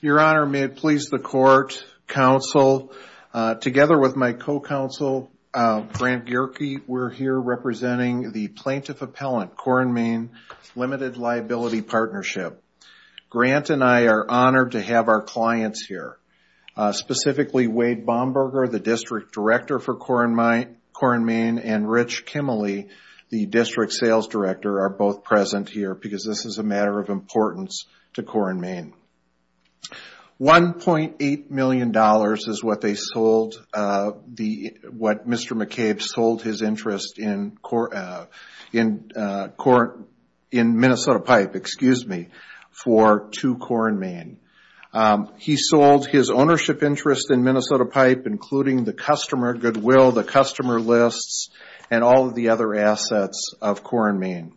Your Honor, may it please the Court, Counsel, together with my co-counsel Grant Gierke, we're here representing the Plaintiff Appellant, Cora and Main, Limited Liability Partnership. Grant and I are honored to have our clients here, specifically Wade Bomberger, the District Sales Director, are both present here because this is a matter of importance to Cora and Main. $1.8 million is what Mr. McCabe sold his interest in Minnesota Pipe, excuse me, for to Cora and Main. He sold his ownership interest in Minnesota Pipe, including the customer goodwill, the customer lists, and all of the other assets of Cora and Main,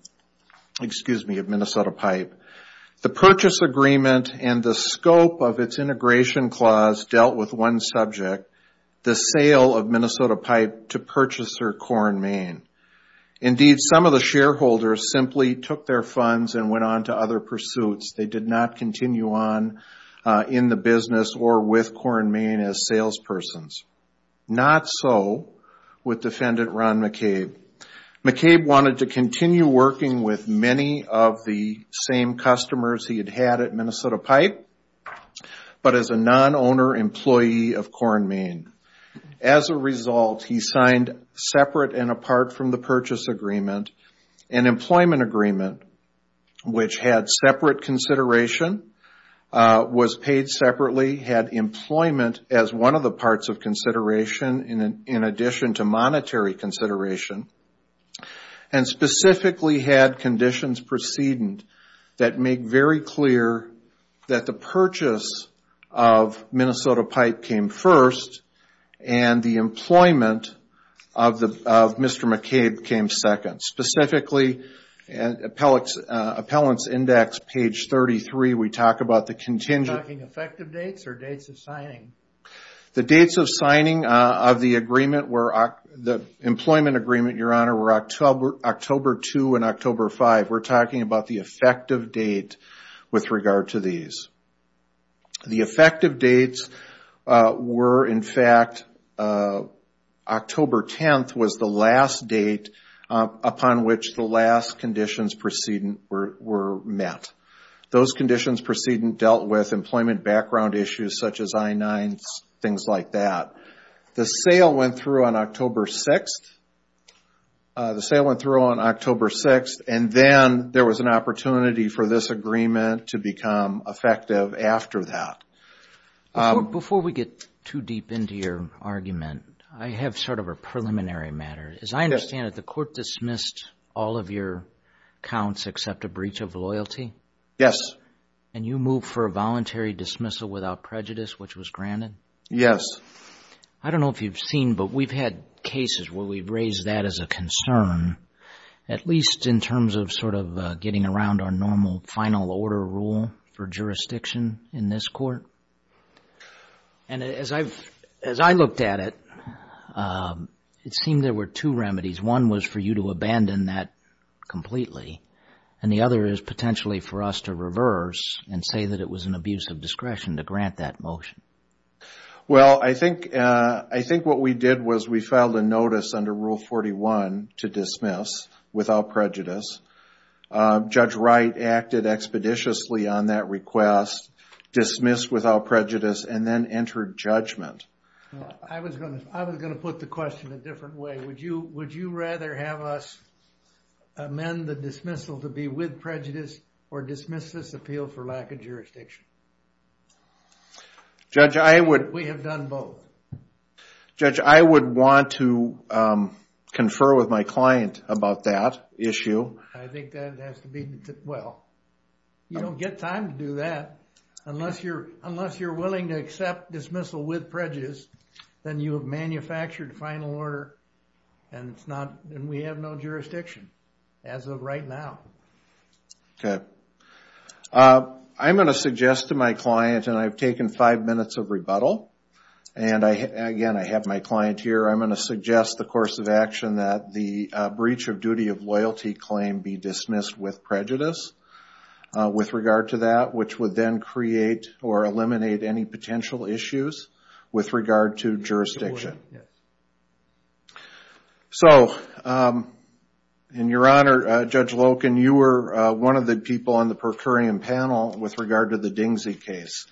excuse me, of Minnesota Pipe. The purchase agreement and the scope of its integration clause dealt with one subject, the sale of Minnesota Pipe to purchaser Cora and Main. Indeed, some of the shareholders simply took their funds and went on to other pursuits. They did not continue on in the business or with Cora and Main as salespersons. Not so with Defendant Ron McCabe. McCabe wanted to continue working with many of the same customers he had had at Minnesota Pipe, but as a non-owner employee of Cora and Main. As a result, he signed, separate and apart from the purchase agreement, an employment agreement, which had separate consideration, was paid separately, had employment as one of the parts of consideration, in addition to monetary consideration, and specifically had conditions precedent that make very clear that the purchase of Minnesota Pipe came first, and the employment of Mr. McCabe came second. Specifically, Appellant's Index, page 33, we talk about the contingent... You're talking effective dates or dates of signing? The dates of signing of the employment agreement, Your Honor, were October 2 and October 5. We're talking about the effective date with regard to these. The effective dates were, in fact, October 10 was the last date upon which the last conditions precedent were met. Those conditions precedent dealt with employment background issues such as I-9s, things like that. The sale went through on October 6, and then there was an opportunity for this agreement to become effective after that. Before we get too deep into your argument, I have sort of a preliminary matter. As I understand it, the court dismissed all of your counts except a breach of loyalty? Yes. And you moved for a voluntary dismissal without prejudice, which was granted? Yes. I don't know if you've seen, but we've had cases where we've raised that as a concern, at least in terms of sort of getting around our normal final order rule for jurisdiction in this court. And as I looked at it, it seemed there were two remedies. One was for you to abandon that completely, and the other is potentially for us to reverse and say that it was an abuse of discretion to grant that motion. Well, I think what we did was we filed a notice under Rule 41 to dismiss without prejudice. Judge Wright acted expeditiously on that request, dismissed without prejudice, and then entered judgment. I was going to put the question a different way. Would you rather have us amend the dismissal to be with prejudice, or dismiss this appeal for lack of jurisdiction? Judge, I would- We have done both. Judge, I would want to confer with my client about that issue. I think that has to be- Well, you don't get time to do that. Unless you're willing to accept dismissal with prejudice, then you have manufactured final order, and we have no jurisdiction as of right now. Okay. I'm going to suggest to my client, and I've taken five minutes of rebuttal, and again, I have my client here. I'm going to suggest the course of action that the breach of duty of loyalty claim be dismissed with prejudice with regard to that, which would then create or eliminate any potential issues with regard to jurisdiction. So, in your honor, Judge Loken, you were one of the people on the per curiam panel with regard to the Dingsey case.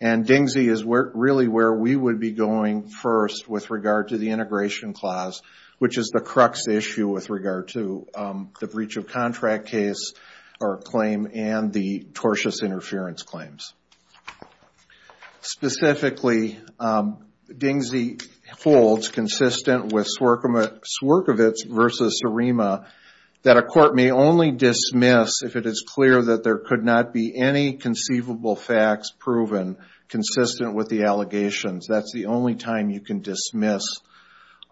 And Dingsey is really where we would be going first with regard to the integration clause, which is the crux issue with regard to the breach of contract case or claim and the tortious interference claims. Specifically, Dingsey holds, consistent with Swerkovitz v. Surima, that a court may only dismiss if it is clear that there could not be any conceivable facts proven consistent with the allegations. That's the only time you can dismiss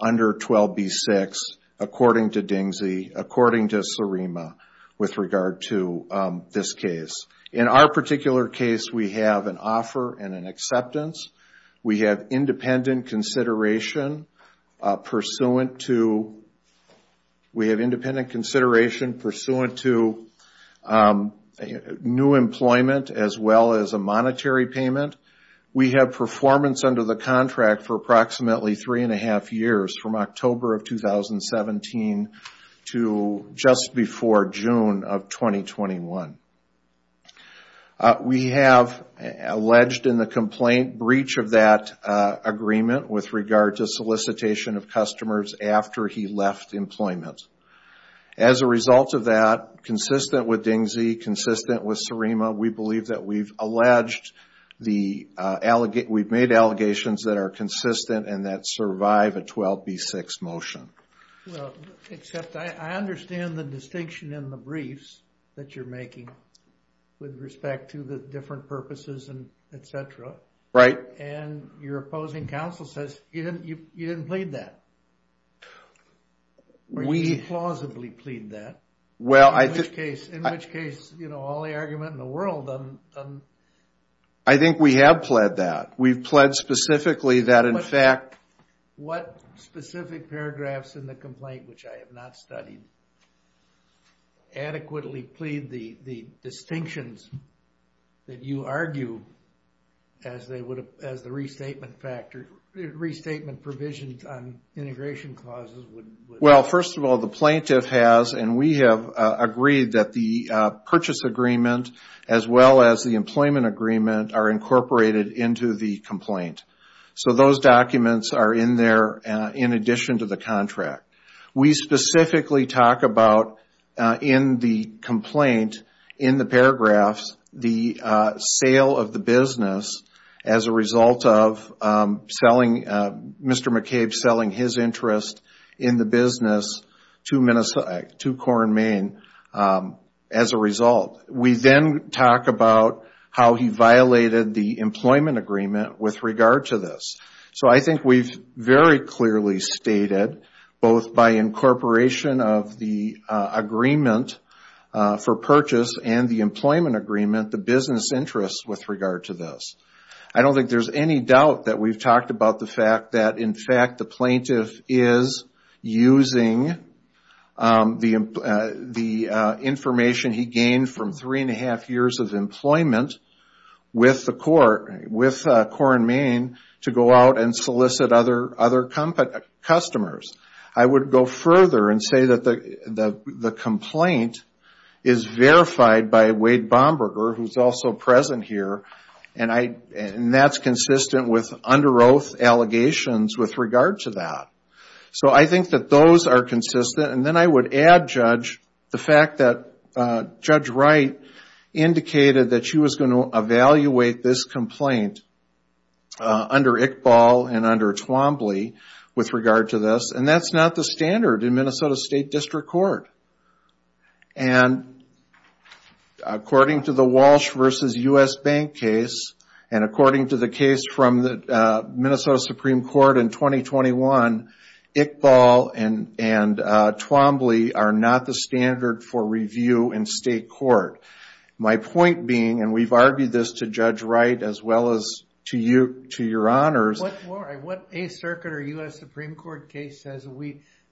under 12b-6, according to Dingsey, according to Surima, with regard to this case. In our particular case, we have an offer and an acceptance. We have independent consideration pursuant to new employment, as well as a monetary payment. We have performance under the contract for approximately three and a half years, from October of 2017 to just before June of 2021. We have alleged in the complaint breach of that agreement with regard to solicitation of customers after he left employment. As a result of that, consistent with Dingsey, consistent with Surima, we believe that we've made allegations that are consistent and that survive a 12b-6 motion. Well, except I understand the distinction in the briefs that you're making with respect to the different purposes and etc. Right. And your opposing counsel says you didn't plead that. We plausibly plead that. In which case, you know, all the argument in the world. I think we have pled that. We've pled specifically that in fact. What specific paragraphs in the complaint, which I have not studied, adequately plead the distinctions that you argue as the restatement provisions on integration clauses? Well, first of all, the plaintiff has, and we have agreed that the purchase agreement, as well as the employment agreement, are incorporated into the complaint. So those documents are in there in addition to the contract. We specifically talk about in the complaint, in the paragraphs, the sale of the business as a result of Mr. McCabe selling his interest in the business to Corn Main as a result. We then talk about how he violated the employment agreement with regard to this. So I think we've very clearly stated, both by incorporation of the agreement for purchase and the employment agreement, the business interest with regard to this. I don't think there's any doubt that we've talked about the fact that, in fact, the plaintiff is using the information he gained from three and a half years of employment with Corn Main to go out and solicit other customers. I would go further and say that the complaint is verified by Wade Bomberger, who's also present here, and that's consistent with under oath allegations with regard to that. So I think that those are consistent. And then I would add, Judge, the fact that Judge Wright indicated that she was going to evaluate this complaint under Iqbal and under Twombly with regard to this. And that's not the standard in Minnesota State District Court. And according to the Walsh versus U.S. Bank case, and according to the case from the Minnesota Supreme Court in 2021, Iqbal and Twombly are not the standard for review in state court. My point being, and we've argued this to Judge Wright as well as to you, to your honors. What A circuit or U.S. Supreme Court case says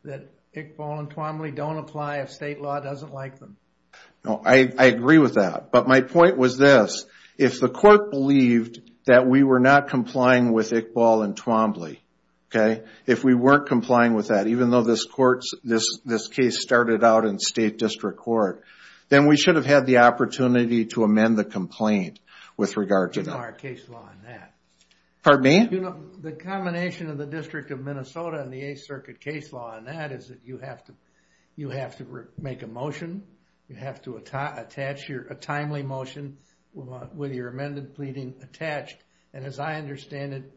that Iqbal and Twombly don't apply if state law doesn't like them? I agree with that. But my point was this. If the court believed that we were not complying with Iqbal and Twombly, if we weren't complying with that, even though this case started out in state district court, then we should have had the opportunity to amend the complaint with regard to that. Pardon me? The combination of the District of Minnesota and the A circuit case law on that is that you have to make a motion, you have to attach a timely motion with your amended pleading attached. And as I understand it,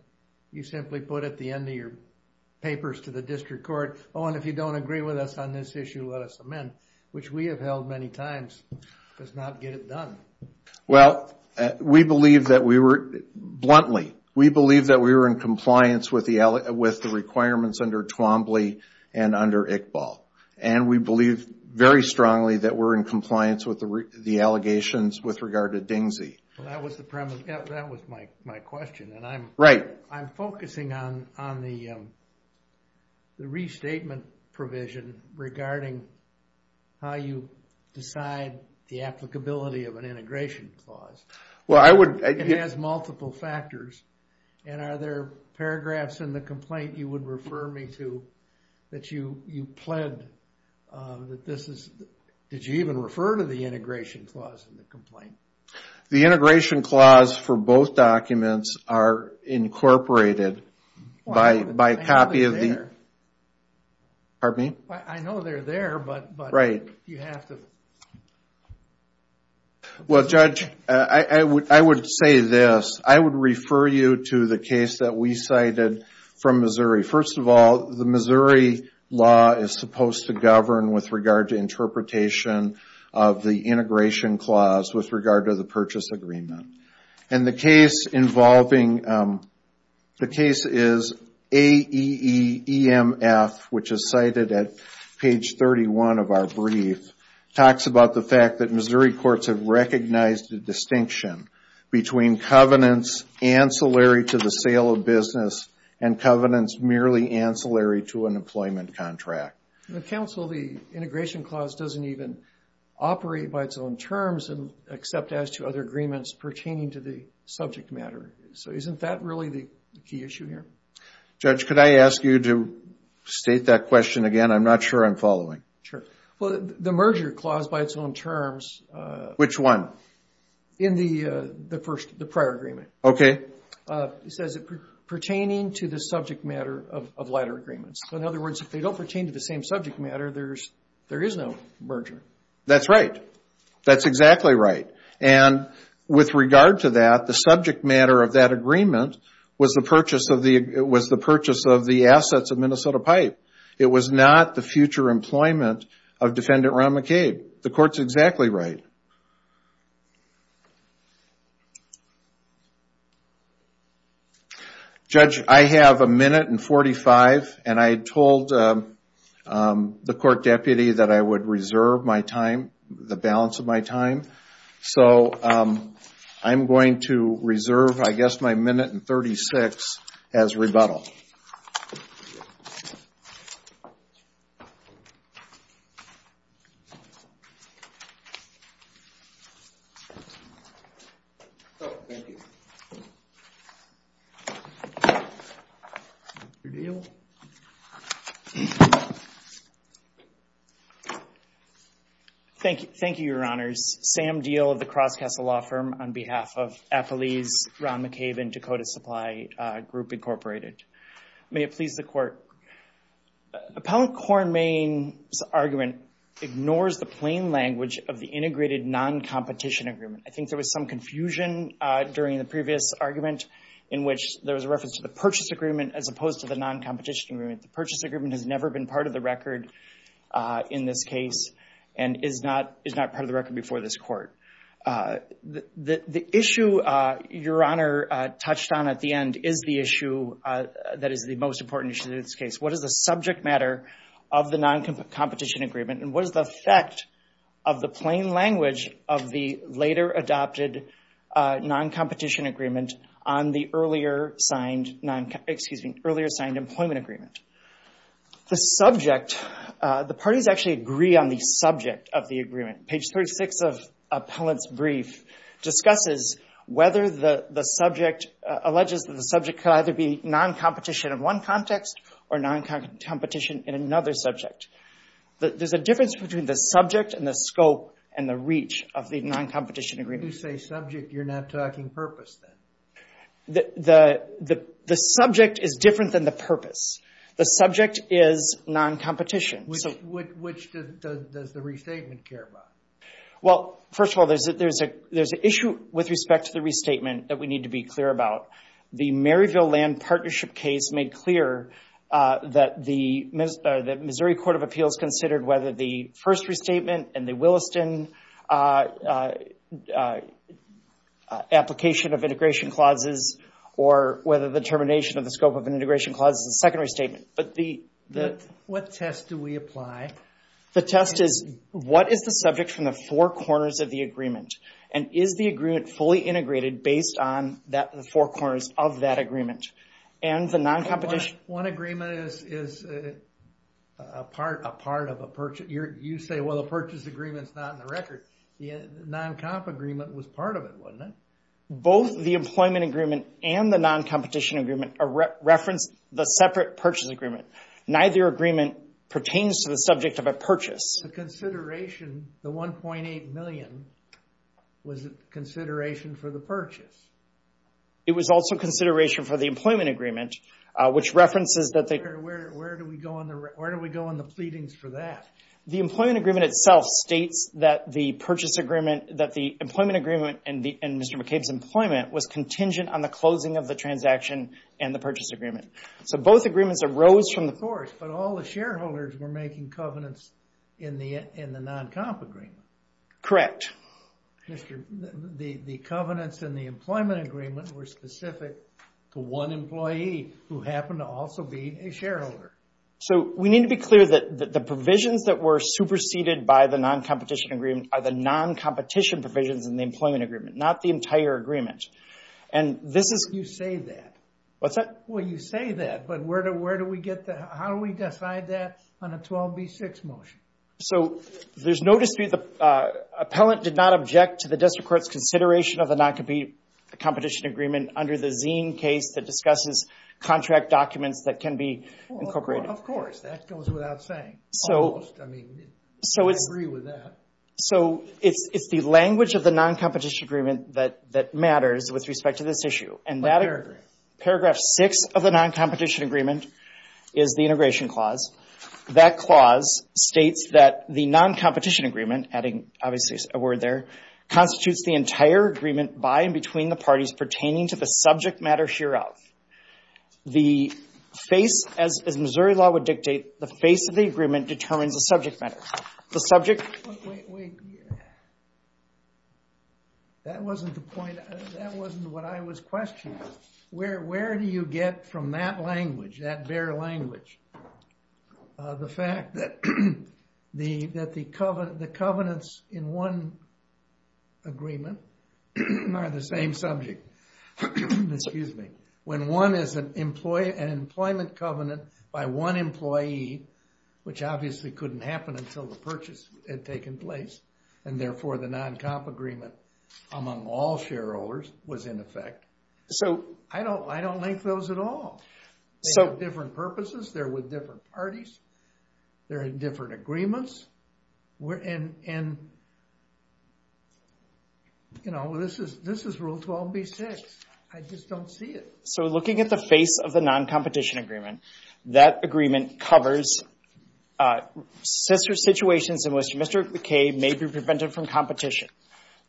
you simply put at the end of your papers to the district court, oh, and if you don't agree with us on this issue, let us amend, which we have held many times, does not get it done. Well, we believe that we were, bluntly, we believe that we were in compliance with the requirements under Twombly and under Iqbal. And we believe very strongly that we're in compliance with the allegations with regard to Dingsey. That was my question. Right. I'm focusing on the restatement provision regarding how you decide the applicability of an integration clause. Well, I would... It has multiple factors. And are there paragraphs in the complaint you would refer me to that you pled that this is, did you even refer to the integration clause in the complaint? The integration clause for both documents are incorporated by copy of the... I know they're there. Pardon me? I know they're there, but... Right. You have to... Well, Judge, I would say this. I would refer you to the case that we cited from Missouri. First of all, the Missouri law is supposed to govern with regard to interpretation of the integration clause with regard to the purchase agreement. And the case involving... which is cited at page 31 of our brief, talks about the fact that Missouri courts have recognized the distinction between covenants ancillary to the sale of business and covenants merely ancillary to an employment contract. Counsel, the integration clause doesn't even operate by its own terms except as to other agreements pertaining to the subject matter. So isn't that really the key issue here? Judge, could I ask you to state that question again? I'm not sure I'm following. Sure. Well, the merger clause by its own terms... Which one? In the prior agreement. Okay. It says pertaining to the subject matter of latter agreements. So in other words, if they don't pertain to the same subject matter, there is no merger. That's right. That's exactly right. And with regard to that, the subject matter of that agreement was the purchase of the assets of Minnesota Pipe. It was not the future employment of Defendant Ron McCabe. The court's exactly right. Judge, I have a minute and 45 and I told the court deputy that I would reserve my time, the balance of my time. So I'm going to reserve, I guess, my minute and 36 as rebuttal. Thank you. Thank you. Thank you, Your Honors. My name is Sam Deal of the Crosscastle Law Firm on behalf of Appalese, Ron McCabe, and Dakota Supply Group, Incorporated. May it please the court. Appellant Cornmaine's argument ignores the plain language of the integrated non-competition agreement. I think there was some confusion during the previous argument in which there was a reference to the purchase agreement as opposed to the non-competition agreement. The purchase agreement has never been part of the record in this case and is not part of the record before this court. The issue Your Honor touched on at the end is the issue that is the most important issue in this case. What is the subject matter of the non-competition agreement and what is the effect of the plain language of the later adopted non-competition agreement on the earlier signed employment agreement? The subject, the parties actually agree on the subject of the agreement. Page 36 of Appellant's brief discusses whether the subject, alleges that the subject could either be non-competition in one context or non-competition in another subject. There's a difference between the subject and the scope and the reach of the non-competition agreement. When you say subject, you're not talking purpose then? The subject is different than the purpose. The subject is non-competition. Which does the restatement care about? Well, first of all, there's an issue with respect to the restatement that we need to be clear about. The Maryville Land Partnership case made clear that the Missouri Court of Appeals considered whether the first restatement and the Williston application of integration clauses or whether the termination of the scope of an integration clause is a secondary statement. What test do we apply? The test is, what is the subject from the four corners of the agreement? And is the agreement fully integrated based on the four corners of that agreement? One agreement is a part of a purchase. You say, well, the purchase agreement's not in the record. The non-comp agreement was part of it, wasn't it? Both the employment agreement and the non-competition agreement reference the separate purchase agreement. Neither agreement pertains to the subject of a purchase. The consideration, the $1.8 million, was it consideration for the purchase? It was also consideration for the employment agreement, which references that they... Where do we go on the pleadings for that? The employment agreement itself states that the purchase agreement, that the employment agreement and Mr. McCabe's employment was contingent on the closing of the transaction and the purchase agreement. So both agreements arose from the... Of course, but all the shareholders were making covenants in the non-comp agreement. Correct. The covenants in the employment agreement were specific to one employee who happened to also be a shareholder. So we need to be clear that the provisions that were superseded by the non-competition agreement are the non-competition provisions in the employment agreement, not the entire agreement. And this is... You say that. What's that? Well, you say that, but where do we get the... How do we decide that on a 12B6 motion? So there's no dispute. The appellant did not object to the district court's consideration of the non-competition agreement under the Zine case that discusses contract documents that can be incorporated. Of course. That goes without saying. Almost. I mean, I agree with that. So it's the language of the non-competition agreement that matters with respect to this issue. A paragraph. Paragraph six of the non-competition agreement is the integration clause. That clause states that the non-competition agreement, adding obviously a word there, constitutes the entire agreement by and between the parties pertaining to the subject matter hereof. The face, as Missouri law would dictate, the face of the agreement determines the subject matter. The subject... Wait, wait, wait. That wasn't the point. That wasn't what I was questioning. Where do you get from that language, that bare language, the fact that the covenants in one agreement are the same subject? Excuse me. When one is an employment covenant by one employee, which obviously couldn't happen until the purchase had taken place, and therefore the non-comp agreement among all shareholders was in effect, I don't like those at all. They have different purposes. They're with different parties. They're in different agreements. And, you know, this is rule 12b-6. I just don't see it. So looking at the face of the non-competition agreement, that agreement covers... Mr. McKay may be prevented from competition.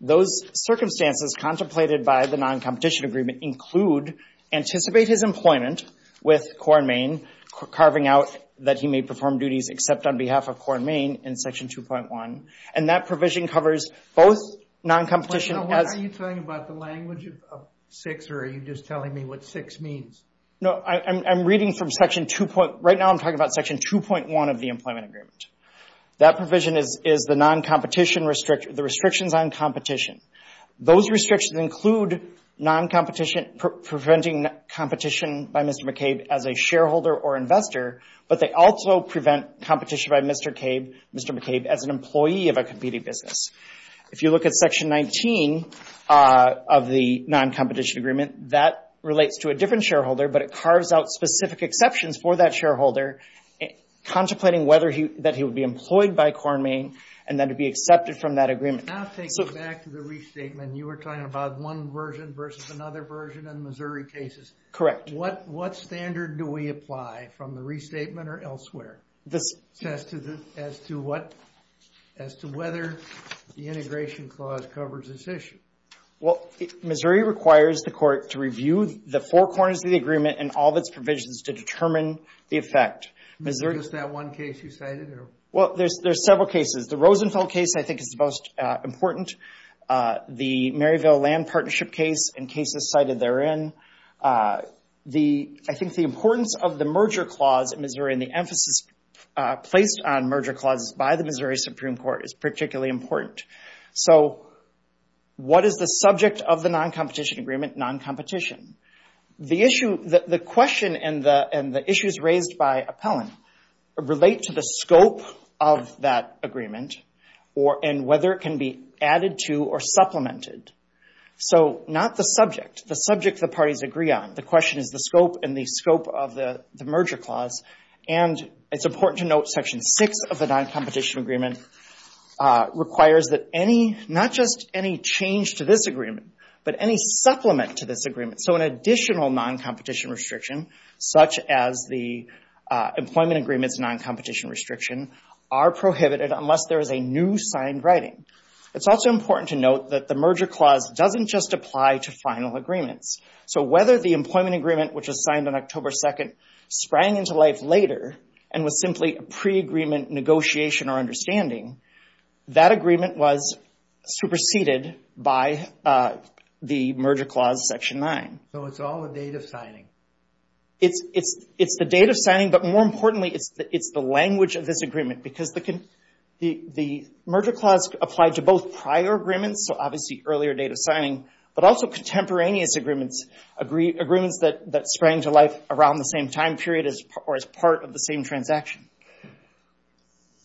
Those circumstances contemplated by the non-competition agreement include anticipate his employment with Corn Main, carving out that he may perform duties except on behalf of Corn Main in Section 2.1, and that provision covers both non-competition... What are you talking about, the language of 6, or are you just telling me what 6 means? No, I'm reading from Section 2. Right now I'm talking about Section 2.1 of the employment agreement. That provision is the non-competition restriction, the restrictions on competition. Those restrictions include non-competition, preventing competition by Mr. McKay as a shareholder or investor, but they also prevent competition by Mr. McKay as an employee of a competing business. If you look at Section 19 of the non-competition agreement, that relates to a different shareholder, but it carves out specific exceptions for that shareholder, contemplating whether that he would be employed by Corn Main and then to be accepted from that agreement. Now take it back to the restatement. You were talking about one version versus another version in Missouri cases. Correct. What standard do we apply from the restatement or elsewhere as to whether the integration clause covers this issue? Well, Missouri requires the court to review the four corners of the agreement and all of its provisions to determine the effect. Is there just that one case you cited? Well, there's several cases. The Rosenfeld case I think is the most important. The Maryville Land Partnership case and cases cited therein. I think the importance of the merger clause in Missouri and the emphasis placed on merger clauses by the Missouri Supreme Court is particularly important. So what is the subject of the non-competition agreement? Non-competition. The question and the issues raised by appellant relate to the scope of that agreement and whether it can be added to or supplemented. So not the subject, the subject the parties agree on. The question is the scope and the scope of the merger clause. It's important to note Section 6 of the non-competition agreement requires that not just any change to this agreement, but any supplement to this agreement. So an additional non-competition restriction, such as the employment agreement's non-competition restriction, are prohibited unless there is a new signed writing. It's also important to note that the merger clause doesn't just apply to final agreements. So whether the employment agreement, which was signed on October 2nd, sprang into life later and was simply a pre-agreement negotiation or understanding, that agreement was superseded by the merger clause, Section 9. So it's all a date of signing. It's the date of signing, but more importantly, it's the language of this agreement because the merger clause applied to both prior agreements, so obviously earlier date of signing, but also contemporaneous agreements, agreements that sprang to life around the same time period or as part of the same transaction.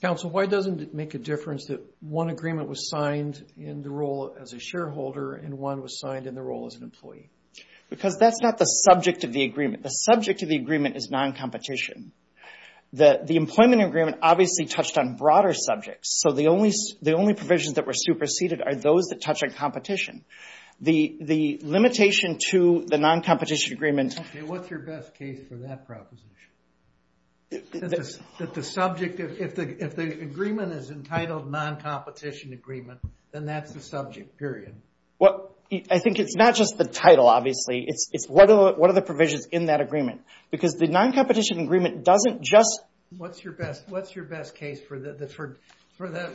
Council, why doesn't it make a difference that one agreement was signed in the role as a shareholder and one was signed in the role as an employee? Because that's not the subject of the agreement. The subject of the agreement is non-competition. The employment agreement obviously touched on broader subjects, so the only provisions that were superseded are those that touch on competition. The limitation to the non-competition agreement... Okay, what's your best case for that proposition? If the agreement is entitled non-competition agreement, then that's the subject, period. Well, I think it's not just the title, obviously. It's what are the provisions in that agreement? Because the non-competition agreement doesn't just... What's your best case for that?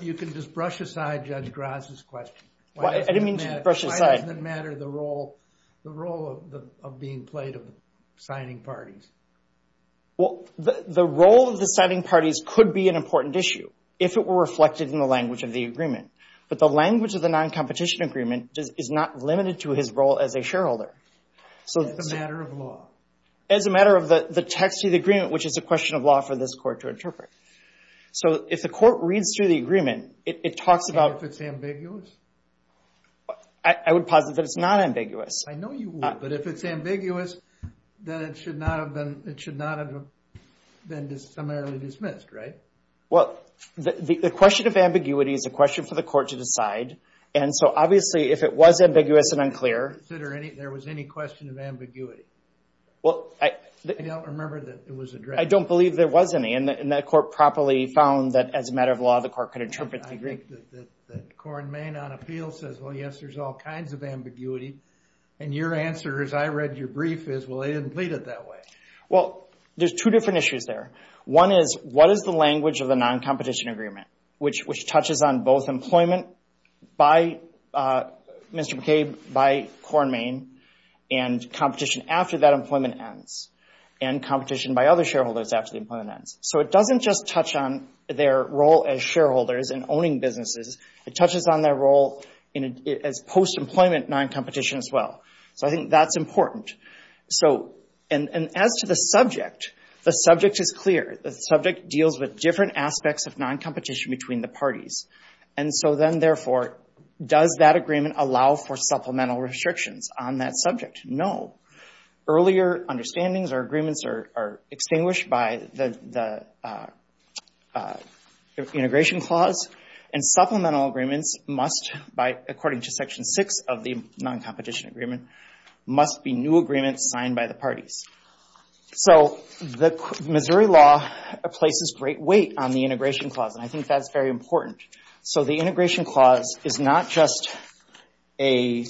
You can just brush aside Judge Graz's question. I didn't mean to brush aside. Why doesn't it matter the role of being played of the signing parties? Well, the role of the signing parties could be an important issue if it were reflected in the language of the agreement, but the language of the non-competition agreement is not limited to his role as a shareholder. As a matter of law. As a matter of the text of the agreement, which is a question of law for this court to interpret. So if the court reads through the agreement, it talks about... And if it's ambiguous? I would posit that it's not ambiguous. I know you would, but if it's ambiguous, then it should not have been... It should not have been disseminarily dismissed, right? Well, the question of ambiguity is a question for the court to decide, and so obviously if it was ambiguous and unclear... There was any question of ambiguity? I don't remember that it was addressed. I don't believe there was any, and the court properly found that as a matter of law the court could interpret the agreement. I think that Corn Main on appeal says, well, yes, there's all kinds of ambiguity, and your answer as I read your brief is, well, they didn't plead it that way. Well, there's two different issues there. One is what is the language of the non-competition agreement, which touches on both employment by Mr. McCabe, by Corn Main, and competition after that employment ends, and competition by other shareholders after the employment ends. So it doesn't just touch on their role as shareholders in owning businesses. It touches on their role as post-employment non-competition as well. So I think that's important. And as to the subject, the subject is clear. The subject deals with different aspects of non-competition between the parties. And so then, therefore, does that agreement allow for supplemental restrictions on that subject? No. Earlier understandings or agreements are extinguished by the integration clause, and supplemental agreements must, according to Section 6 of the non-competition agreement, must be new agreements signed by the parties. So the Missouri law places great weight on the integration clause, and I think that's very important. So the integration clause is not just a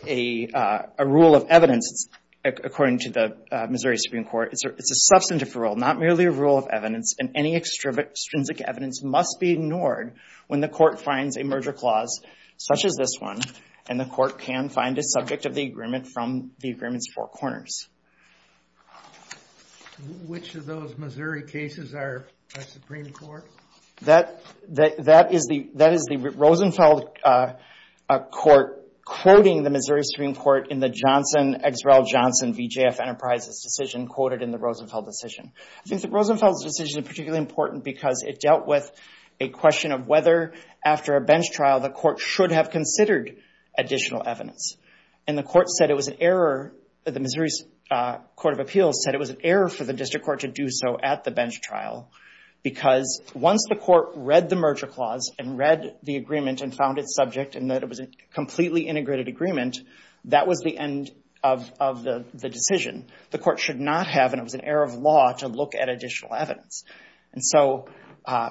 rule of evidence, according to the Missouri Supreme Court. It's a substantive rule, not merely a rule of evidence, and any extrinsic evidence must be ignored when the court finds a merger clause such as this one, and the court can find a subject of the agreement from the agreement's four corners. Which of those Missouri cases are a Supreme Court? That is the Rosenfeld Court quoting the Missouri Supreme Court in the Johnson-Eggswell-Johnson v. J.F. Enterprises decision quoted in the Rosenfeld decision. I think the Rosenfeld decision is particularly important because it dealt with a question of whether, after a bench trial, the court should have considered additional evidence. And the Missouri Court of Appeals said it was an error for the district court to do so at the bench trial because once the court read the merger clause and read the agreement and found its subject and that it was a completely integrated agreement, that was the end of the decision. The court should not have, and it was an error of law, to look at additional evidence. And so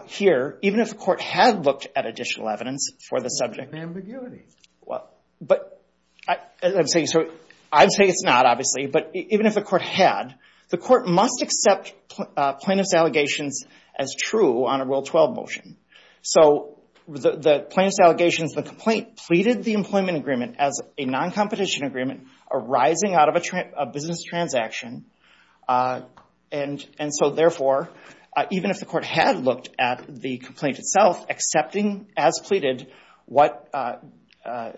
here, even if the court had looked at additional evidence for the subject... Ambiguity. I'm saying it's not, obviously, but even if the court had, the court must accept plaintiff's allegations as true on a Rule 12 motion. So the plaintiff's allegations, the complaint, pleaded the employment agreement as a non-competition agreement arising out of a business transaction. And so therefore, even if the court had looked at the complaint itself, accepting as pleaded what a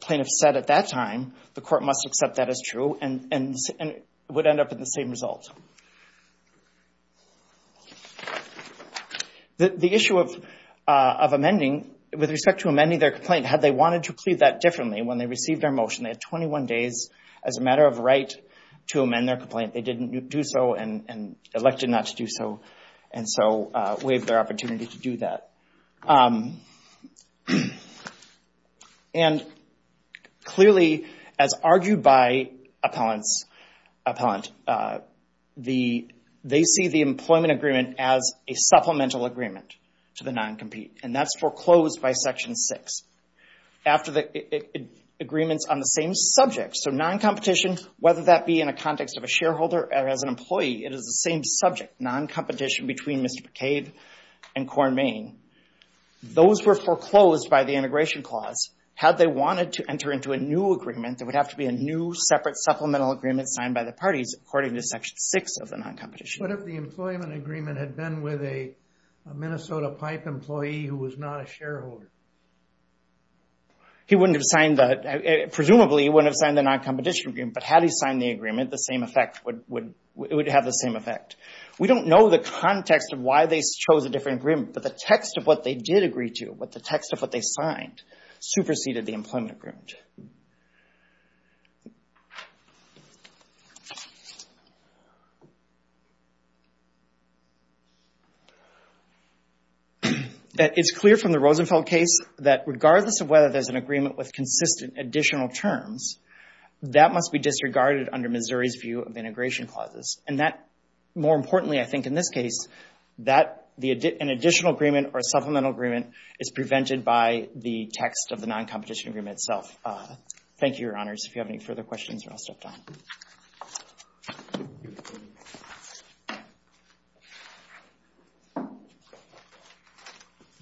plaintiff said at that time, the court must accept that as true and would end up with the same result. The issue of amending, with respect to amending their complaint, had they wanted to plead that differently when they received their motion, they had 21 days as a matter of right to amend their complaint. They didn't do so and elected not to do so, and so waived their opportunity to do that. And clearly, as argued by appellants, they see the employment agreement as a supplemental agreement to the non-compete, and that's foreclosed by Section 6. After the agreements on the same subject. So non-competition, whether that be in a context of a shareholder or as an employee, it is the same subject, non-competition between Mr. McCabe and Corn Main. Those were foreclosed by the integration clause. Had they wanted to enter into a new agreement, there would have to be a new separate supplemental agreement signed by the parties, according to Section 6 of the non-competition. What if the employment agreement had been with a Minnesota Pipe employee who was not a shareholder? He wouldn't have signed that. Presumably, he wouldn't have signed the non-competition agreement, but had he signed the agreement, it would have the same effect. We don't know the context of why they chose a different agreement, but the text of what they did agree to, the text of what they signed, superseded the employment agreement. It's clear from the Rosenfeld case that regardless of whether there's an agreement with consistent additional terms, that must be disregarded under Missouri's view of integration clauses. And that, more importantly, I think in this case, that an additional agreement or a supplemental agreement is prevented by the text of the non-competition agreement itself. Thank you, Your Honors. If you have any further questions, I'll step down.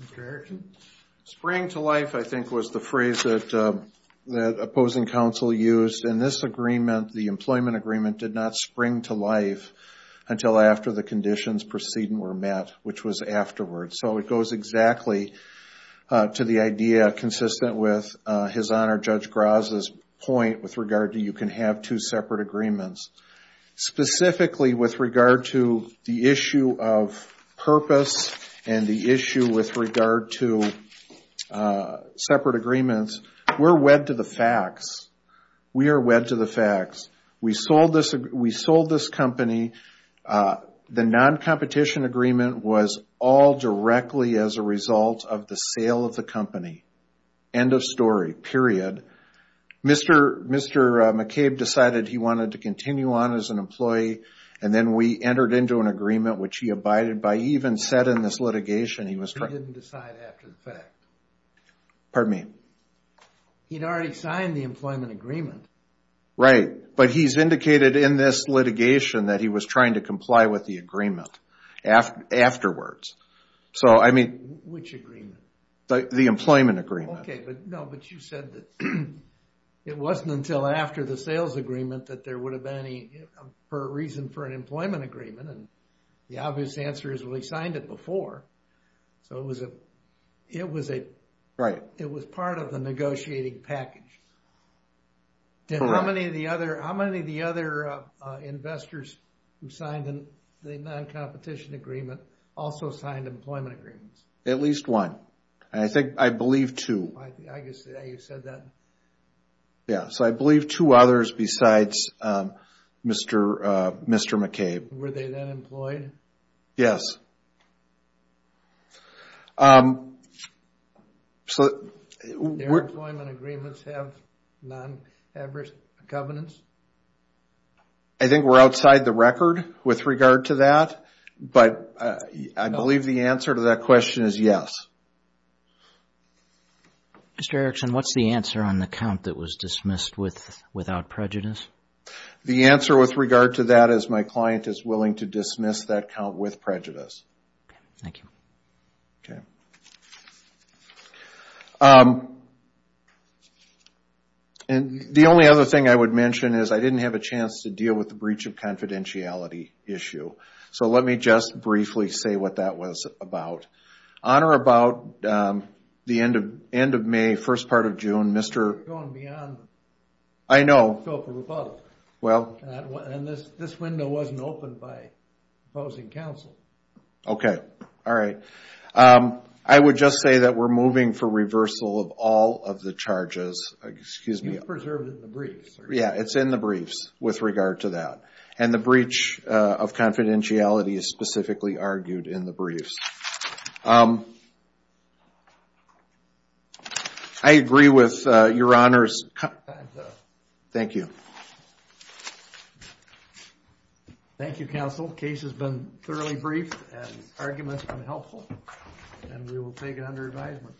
Mr. Erickson? Spring to life, I think, was the phrase that opposing counsel used. In this agreement, the employment agreement did not spring to life until after the conditions preceding were met, which was afterwards. So it goes exactly to the idea consistent with His Honor Judge Graza's point with regard to you can have two separate agreements. Specifically with regard to the issue of purpose and the issue with regard to separate agreements, we're wed to the facts. We are wed to the facts. We sold this company. The non-competition agreement was all directly as a result of the sale of the company. End of story, period. Mr. McCabe decided he wanted to continue on as an employee, and then we entered into an agreement, which he abided by. He even said in this litigation he was trying to comply with the agreement. He didn't decide after the fact. Pardon me? He'd already signed the employment agreement. Right, but he's indicated in this litigation that he was trying to comply with the agreement afterwards. Which agreement? The employment agreement. Okay, but you said that it wasn't until after the sales agreement that there would have been any reason for an employment agreement. The obvious answer is we signed it before. So it was part of the negotiating package. Correct. How many of the other investors who signed the non-competition agreement also signed employment agreements? At least one. I think I believe two. I guess you said that. Yeah, so I believe two others besides Mr. McCabe. Were they then employed? Yes. Do their employment agreements have non-covenants? I think we're outside the record with regard to that, but I believe the answer to that question is yes. Mr. Erickson, what's the answer on the count that was dismissed without prejudice? The answer with regard to that is my client is willing to dismiss that count with prejudice. Thank you. The only other thing I would mention is I didn't have a chance to deal with the breach of confidentiality issue. So let me just briefly say what that was about. On or about the end of May, first part of June, Mr. You're going beyond. I know. And this window wasn't opened by opposing counsel. Okay. All right. I would just say that we're moving for reversal of all of the charges. Excuse me. You preserved it in the briefs. Yeah, it's in the briefs with regard to that. And the breach of confidentiality is specifically argued in the briefs. I agree with your honors. Thank you. Thank you, counsel. Case has been thoroughly briefed and arguments have been helpful. And we will take it under advisement.